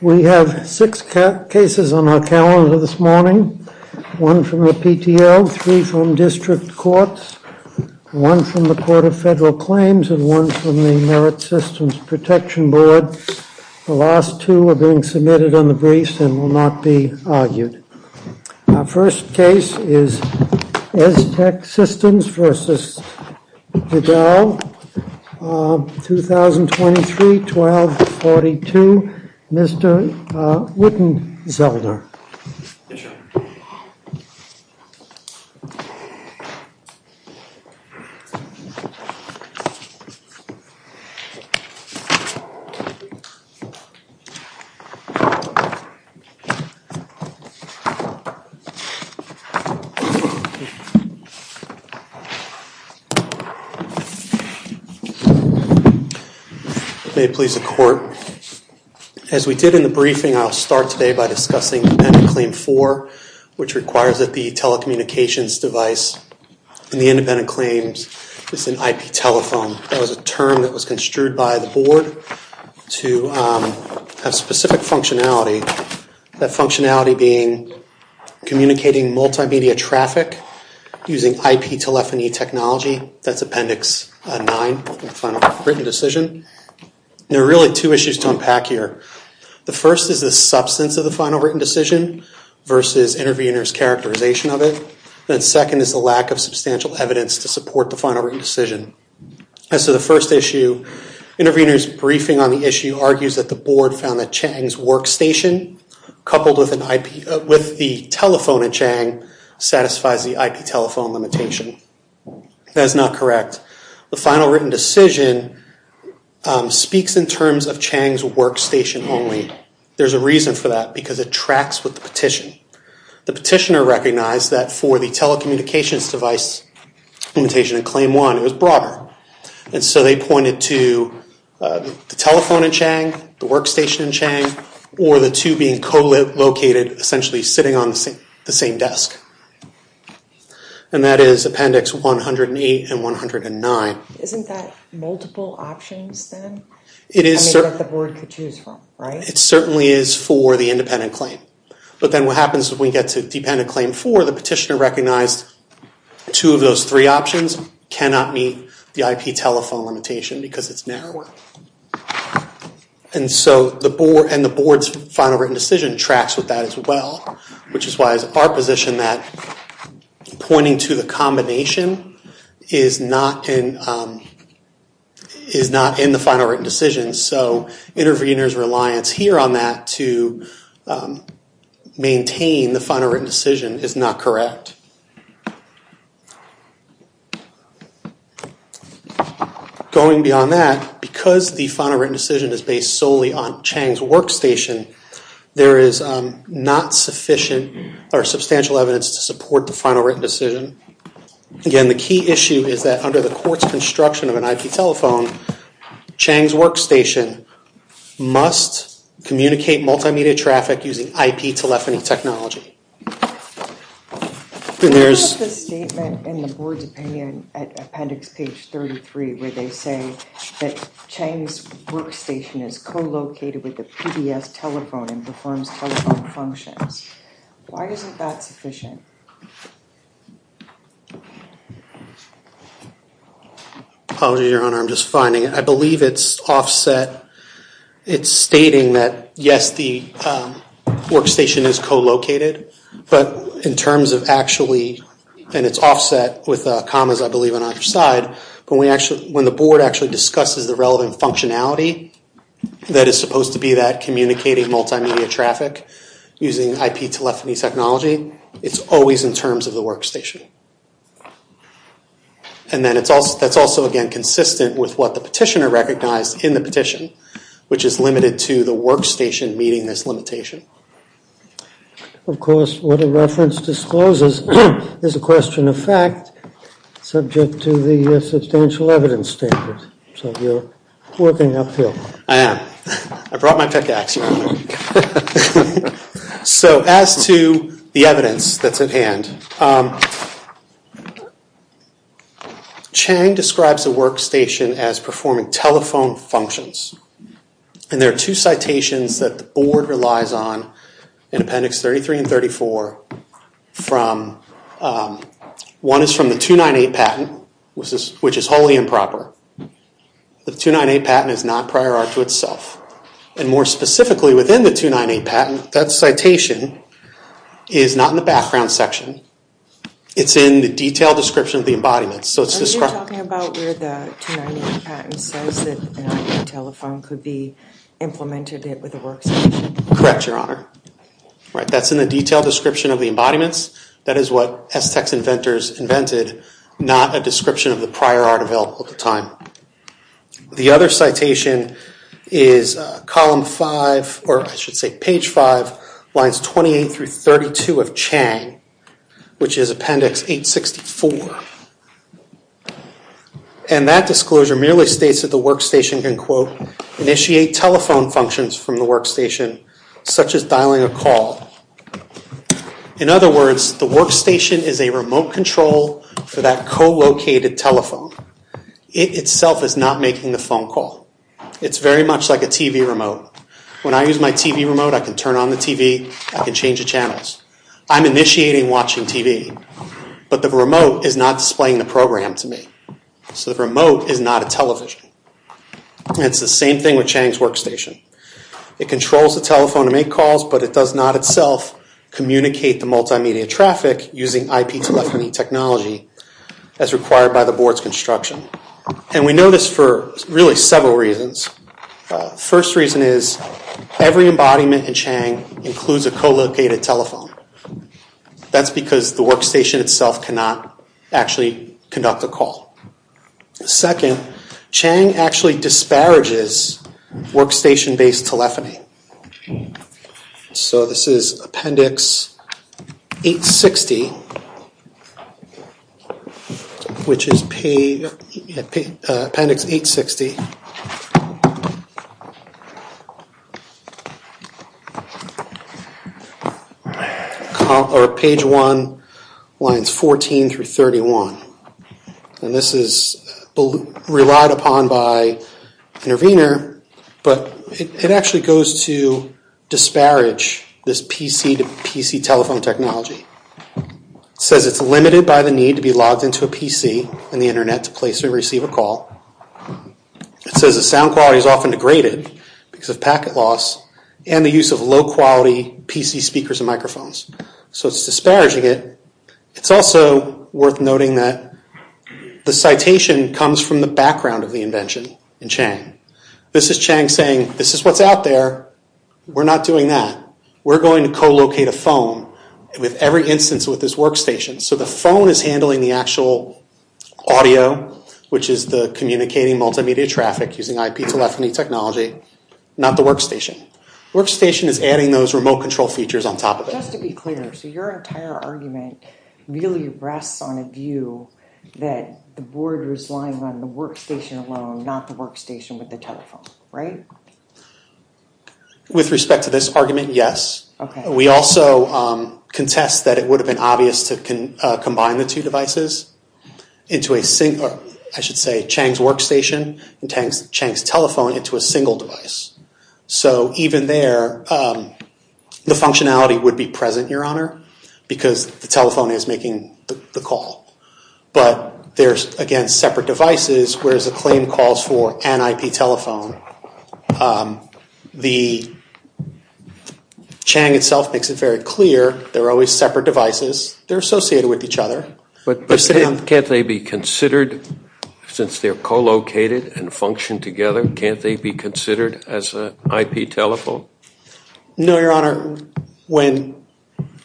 We have six cases on our calendar this morning, one from the PTO, three from district courts, one from the Court of Federal Claims, and one from the Merit Systems Protection Board. The last two are being submitted on the briefs and will not be argued. Our first case is Estech Systems v. Vidal, 2023-12-42, Mr. Wittenzelder. Mr. Wittenzelder, may it please the court. As we did in the briefing, I'll start today by discussing Independent Claim 4, which requires that the telecommunications device in the independent claims is an IP telephone. That was a term that was construed by the board to have specific functionality, that functionality being communicating multimedia traffic using IP telephony technology. That's Appendix 9 in the Final Written Decision. There are really two issues to unpack here. The first is the substance of the Final Written Decision versus intervener's characterization of it, and second is the lack of substantial evidence to support the Final Written Decision. As to the first issue, intervener's briefing on the issue argues that the board found that Chang's workstation coupled with the telephone in Chang satisfies the IP telephone limitation. That is not correct. The Final Written Decision speaks in terms of Chang's workstation only. There's a reason for that because it tracks with the petition. The petitioner recognized that for the telecommunications device limitation in Claim 1, it was broader, and so they pointed to the telephone in Chang, the workstation in Chang, or the two being co-located, essentially sitting on the same desk. And that is Appendix 108 and 109. Isn't that multiple options then? It is. That the board could choose from, right? It certainly is for the independent claim. But then what happens when we get to dependent claim 4, the petitioner recognized two of those three options cannot meet the IP telephone limitation because it's narrower. And so the board's Final Written Decision tracks with that as well, which is why it's our position that pointing to the combination is not in the Final Written Decision. So interveners' reliance here on that to maintain the Final Written Decision is not correct. Going beyond that, because the Final Written Decision is based solely on Chang's workstation, there is not sufficient or substantial evidence to support the Final Written Decision. Again, the key issue is that under the court's construction of an IP telephone, Chang's workstation must communicate multimedia traffic using IP telephony technology. There's a statement in the board's opinion at Appendix page 33 where they say that Chang's workstation is co-located with the PBS telephone and performs telephone functions. Why isn't that sufficient? Apologies, Your Honor. I'm just finding it. I believe it's offset. It's stating that, yes, the workstation is co-located. But in terms of actually, and it's offset with commas, I believe, on either side. But when the board actually discusses the relevant functionality that is supposed to be that communicating multimedia traffic using IP telephony technology, it's always in terms of the workstation. And then that's also, again, consistent with what the petitioner recognized in the petition, which is limited to the workstation meeting this limitation. Of course, what a reference discloses is a question of fact subject to the substantial evidence standards. So you're working uphill. I am. I brought my pickaxe, Your Honor. So as to the evidence that's at hand, Chang describes a workstation as performing telephone functions. And there are two citations that the board relies on in Appendix 33 and 34. One is from the 298 patent, which is wholly improper. The 298 patent is not prior art to itself. And more specifically, within the 298 patent, that citation is not in the background section. It's in the detailed description of the embodiment. So it's described. Are you talking about where the 298 patent says that an IP telephone could be implemented with a workstation? Correct, Your Honor. That's in the detailed description of the embodiments. That is what Aztecs inventors invented, not a description of the prior art available at the time. The other citation is column 5, or I should say page 5, lines 28 through 32 of Chang, which is Appendix 864. And that disclosure merely states that the workstation can, quote, initiate telephone functions from the workstation, such as dialing a call. In other words, the workstation is a remote control for that co-located telephone. It itself is not making the phone call. It's very much like a TV remote. When I use my TV remote, I can turn on the TV, I can change the channels. I'm initiating watching TV, but the remote is not displaying the program to me. So the remote is not a television. And it's the same thing with Chang's workstation. It controls the telephone to make calls, but it does not itself communicate the multimedia traffic using IP telephony technology as required by the board's construction. And we know this for really several reasons. First reason is every embodiment in Chang includes a co-located telephone. That's because the workstation itself cannot actually conduct a call. Second, Chang actually disparages workstation-based telephony. So this is Appendix 860, which is page... Appendix 860. Or page one, lines 14 through 31. And this is relied upon by Intervenor, but it actually goes to disparage this PC-to-PC telephone technology. It says it's limited by the need to be logged into a PC and the internet to place or receive a call. It says the sound quality is often degraded because of packet loss and the use of low-quality PC speakers and microphones. So it's disparaging it. It's also worth noting that the citation comes from the background of the invention in Chang. This is Chang saying, this is what's out there. We're not doing that. We're going to co-locate a phone with every instance with this workstation. So the phone is handling the actual audio, which is the communicating multimedia traffic using IP telephony technology, not the workstation. Workstation is adding those remote control features on top of it. So let's be clear. So your entire argument really rests on a view that the board was lying on the workstation alone, not the workstation with the telephone, right? With respect to this argument, yes. We also contest that it would have been obvious to combine the two devices into a single, I should say Chang's workstation and Chang's telephone into a single device. So even there, the functionality would be present, Your Honor, because the telephone is making the call. But they're, again, separate devices, whereas the claim calls for an IP telephone. The Chang itself makes it very clear they're always separate devices. They're associated with each other. But can't they be considered, since they're co-located and function together, can't they be considered as an IP telephone? No, Your Honor. When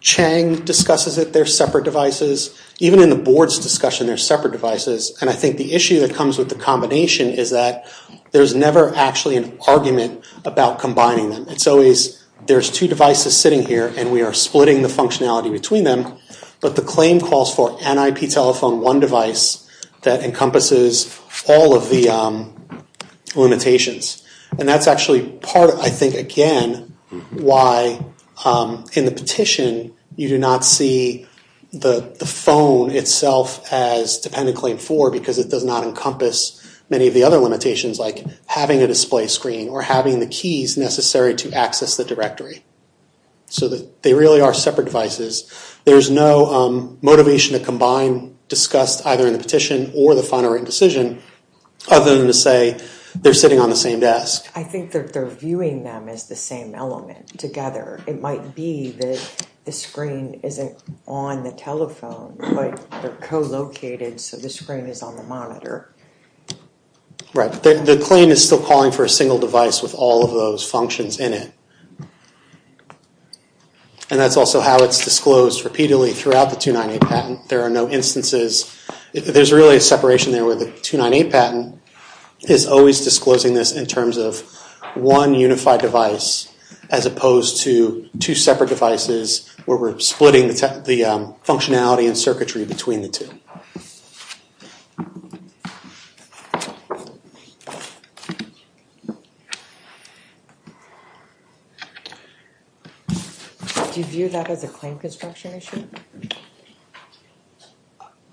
Chang discusses it, they're separate devices. Even in the board's discussion, they're separate devices. And I think the issue that comes with the combination is that there's never actually an argument about combining them. It's always, there's two devices sitting here and we are splitting the functionality between them. But the claim calls for an IP telephone, one device that encompasses all of the limitations. And that's actually part, I think, again, why in the petition you do not see the phone itself as dependent claim four because it does not encompass many of the other limitations like having a display screen or having the keys necessary to access the directory. So they really are separate devices. There's no motivation to combine discussed either in the petition or the final written decision other than to say they're sitting on the same desk. I think that they're viewing them as the same element together. It might be that the screen isn't on the telephone, but they're co-located so the screen is on the monitor. Right. The claim is still calling for a single device with all of those functions in it. And that's also how it's disclosed repeatedly throughout the 298 patent. There are no instances, there's really a separation there where the 298 patent is always disclosing this in terms of one unified device as opposed to two separate devices where we're splitting the functionality and circuitry between the two. Do you view that as a claim construction issue?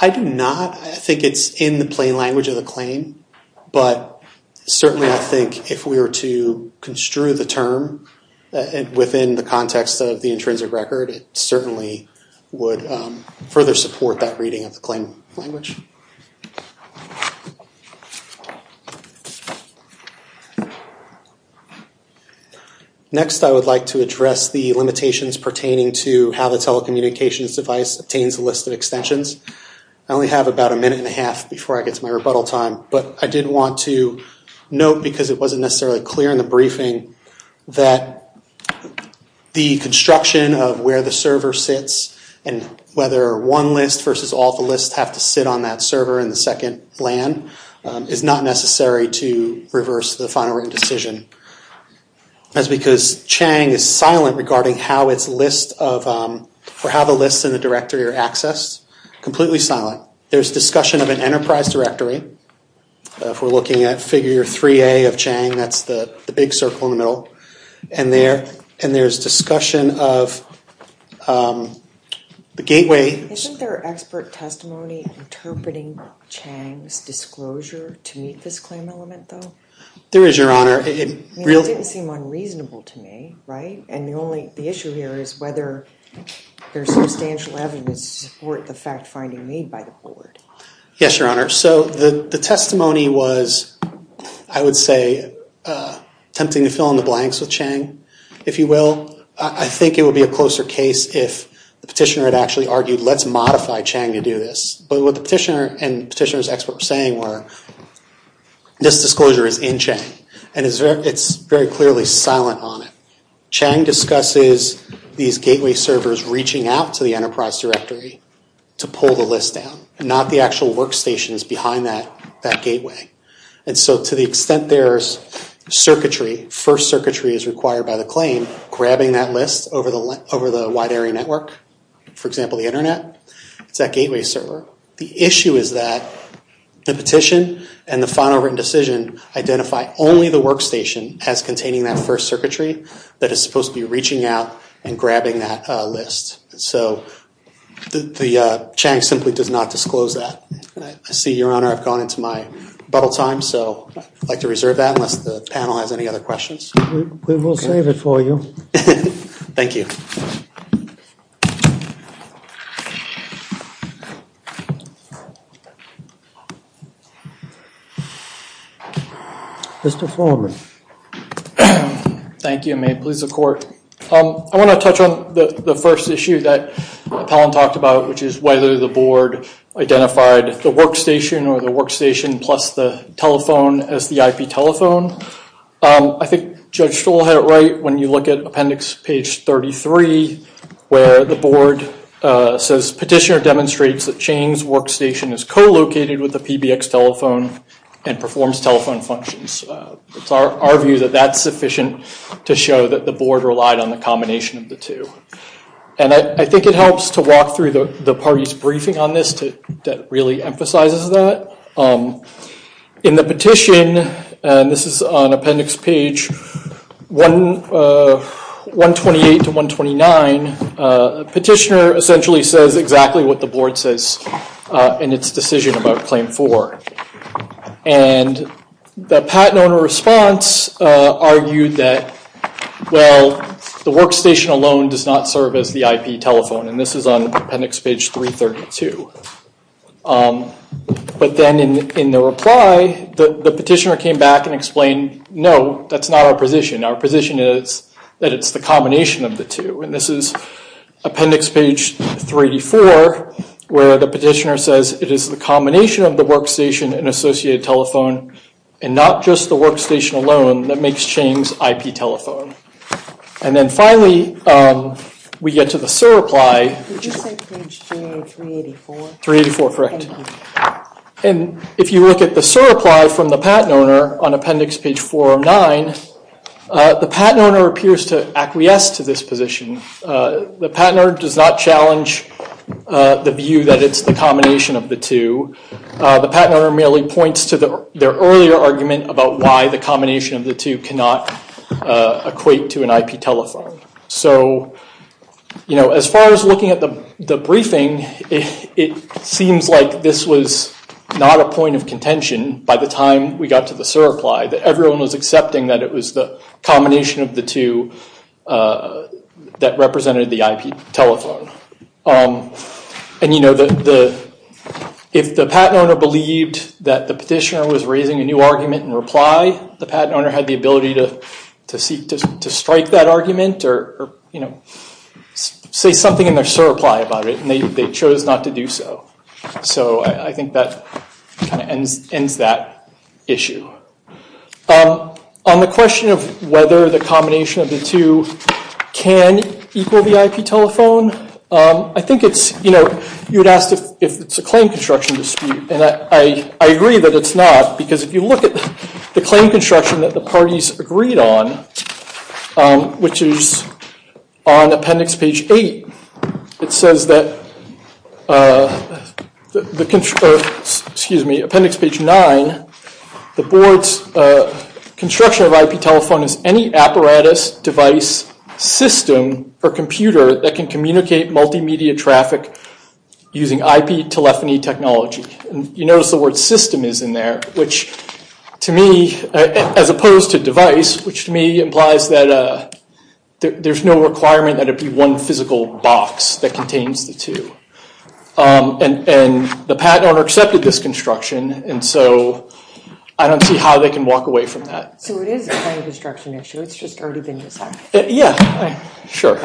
I do not. I think it's in the plain language of the claim, but certainly I think if we were to construe the term within the context of the intrinsic record, it certainly would further support that reading of the claim language. Next, I would like to address the limitations pertaining to how the telecommunications device obtains a list of extensions. I only have about a minute and a half before I get to my rebuttal time, but I did want to note, because it wasn't necessarily clear in the briefing, that the construction of where the server sits and whether one list versus all the lists have to sit on that same server and the second LAN is not necessary to reverse the final written decision. That's because Chang is silent regarding how the lists in the directory are accessed. Completely silent. There's discussion of an enterprise directory. If we're looking at figure 3A of Chang, that's the big circle in the middle. And there's discussion of the gateway. Isn't there expert testimony interpreting Chang's disclosure to meet this claim element, though? There is, Your Honor. It didn't seem unreasonable to me, right? And the issue here is whether there's substantial evidence to support the fact-finding made by the board. Yes, Your Honor. So the testimony was, I would say, tempting to fill in the blanks with Chang, if you will. I think it would be a closer case if the petitioner had actually argued, let's modify Chang to do this. But what the petitioner and petitioner's expert were saying were, this disclosure is in Chang and it's very clearly silent on it. Chang discusses these gateway servers reaching out to the enterprise directory to pull the list down, not the actual workstations behind that gateway. And so to the extent there's circuitry, first circuitry is required by the claim, grabbing that list over the wide area network. For example, the internet. It's that gateway server. The issue is that the petition and the final written decision identify only the workstation as containing that first circuitry that is supposed to be reaching out and grabbing that list. So Chang simply does not disclose that. I see, Your Honor, I've gone into my bubble time, so I'd like to reserve that unless the panel has any other questions. We will save it for you. Thank you. Mr. Foreman. Thank you, and may it please the Court. I want to touch on the first issue that Apollon talked about, which is whether the Board identified the workstation or the workstation plus the telephone as the IP telephone. I think Judge Stoll had it right when you look at Appendix Page 33, where the Board says, Petitioner demonstrates that Chang's workstation is co-located with the PBX telephone and performs telephone functions. It's our view that that's sufficient to show that the Board relied on the combination of the two. And I think it helps to walk through the party's briefing on this that really emphasizes that. In the petition, and this is on Appendix Page 128 to 129, Petitioner essentially says exactly what the Board says in its decision about Claim 4. And the patent owner response argued that, well, the workstation alone does not serve as the IP telephone, and this is on Appendix Page 332. But then in the reply, the Petitioner came back and explained, no, that's not our position. Our position is that it's the combination of the two. And this is Appendix Page 384, where the Petitioner says, it is the combination of the workstation and associated telephone, and not just the workstation alone that makes Chang's IP telephone. And then finally, we get to the SIR reply. Did you say page 384? 384, correct. And if you look at the SIR reply from the patent owner on Appendix Page 409, the patent owner appears to acquiesce to this position. The patent owner does not challenge the view that it's the combination of the two. The patent owner merely points to their earlier argument about why the combination of the two cannot equate to an IP telephone. So as far as looking at the briefing, it seems like this was not a point of contention by the time we got to the SIR reply, that everyone was accepting that it was the combination of the two that represented the IP telephone. And if the patent owner believed that the Petitioner was raising a new argument in reply, the patent owner had the ability to seek to strike that argument or say something in their SIR reply about it, and they chose not to do so. So I think that kind of ends that issue. On the question of whether the combination of the two can equal the IP telephone, I think it's, you know, you would ask if it's a claim construction dispute, and I agree that it's not, because if you look at the claim construction that the parties agreed on, which is on appendix page 8, it says that, excuse me, appendix page 9, the board's construction of IP telephone is any apparatus, device, system, or computer that can communicate multimedia traffic using IP telephony technology. You notice the word system is in there, which to me, as opposed to device, which to me implies that there's no requirement that it be one physical box that contains the two. And the patent owner accepted this construction, and so I don't see how they can walk away from that. So it is a claim construction issue, it's just already been decided. Yeah, sure.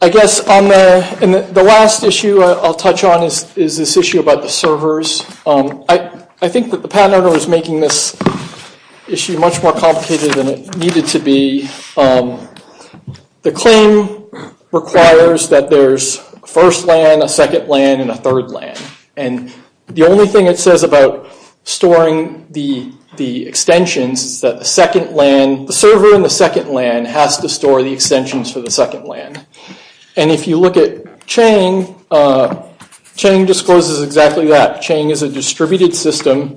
I guess on the last issue I'll touch on is this issue about the servers. I think that the patent owner was making this issue much more complicated than it needed to be. The claim requires that there's first LAN, a second LAN, and a third LAN. And the only thing it says about storing the extensions is that the server in the second LAN has to store the extensions for the second LAN. And if you look at Chang, Chang discloses exactly that. Chang is a distributed system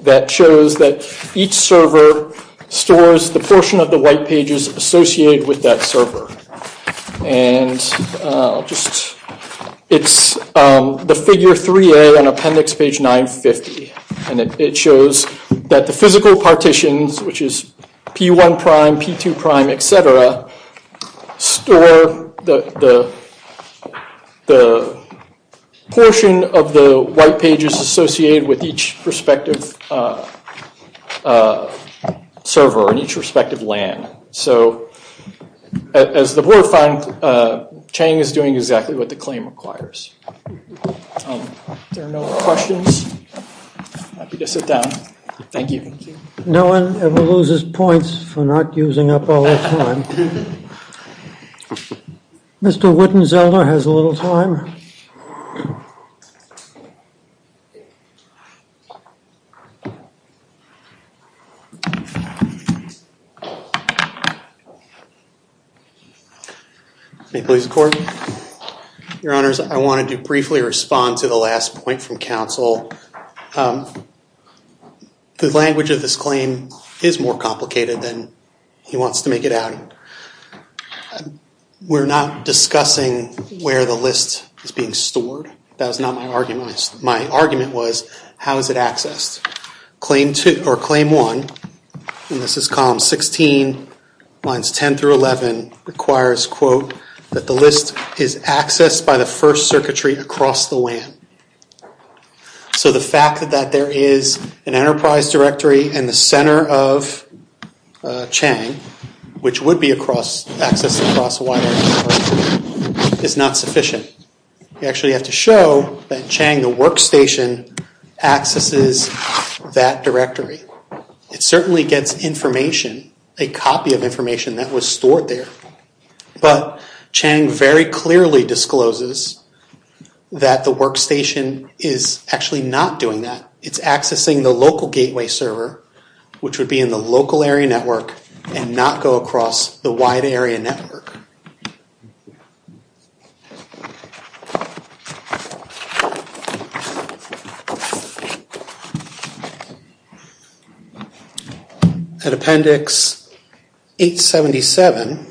that shows that each server stores the portion of the white pages associated with that server. And it's the figure 3A on appendix page 950. And it shows that the physical partitions, which is P1 prime, P2 prime, et cetera, store the portion of the white pages associated with each respective server and each respective LAN. So as the board found, Chang is doing exactly what the claim requires. If there are no more questions, I'd be happy to sit down. Thank you. No one ever loses points for not using up all their time. Mr. Whitten-Zelda has a little time. May I please record? Your Honors, I wanted to briefly respond to the last point from counsel. The language of this claim is more complicated than he wants to make it out. We're not discussing where the list is being stored. That was not my argument. My argument was, how is it accessed? Claim two, or claim one, and this is column 16, lines 10 through 11, requires, quote, that the list is accessed by the first circuitry across the LAN. So the fact that there is an enterprise directory in the center of Chang, which would be accessed across a wide array of servers, is not sufficient. You actually have to show that Chang, the workstation, accesses that directory. It certainly gets information, a copy of information that was stored there, but Chang very clearly discloses that the workstation is actually not doing that. It's accessing the local gateway server, which would be in the local area network, and not go across the wide area network. At appendix 877,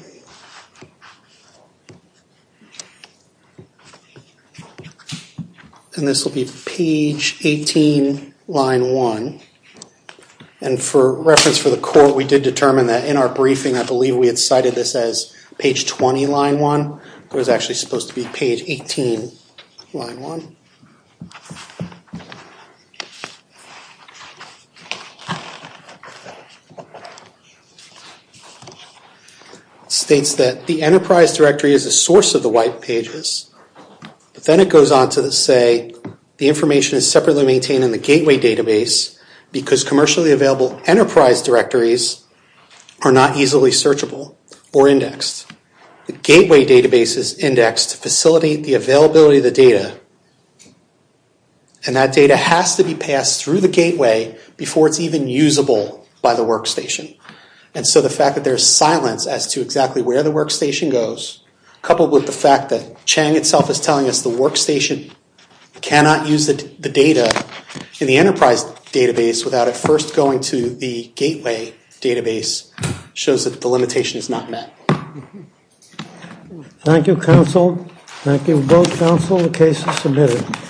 and this will be page 18, line 1, and for reference for the court, we did determine that in our briefing, I believe we had cited this as page 20, line 1. It was actually supposed to be page 18, line 1. It states that the enterprise directory is a source of the white pages, but then it goes on to say, the information is separately maintained in the gateway database, because commercially available enterprise directories are not easily searchable or indexed. The gateway database is indexed to facilitate the availability of the data, and that data has to be passed through the gateway before it's even usable by the workstation. And so the fact that there's silence as to exactly where the workstation goes, coupled with the fact that Chang itself is telling us the workstation cannot use the data in the enterprise database without it first going to the gateway database, shows that the limitation is not met. Thank you, counsel. Thank you both, counsel. The case is submitted.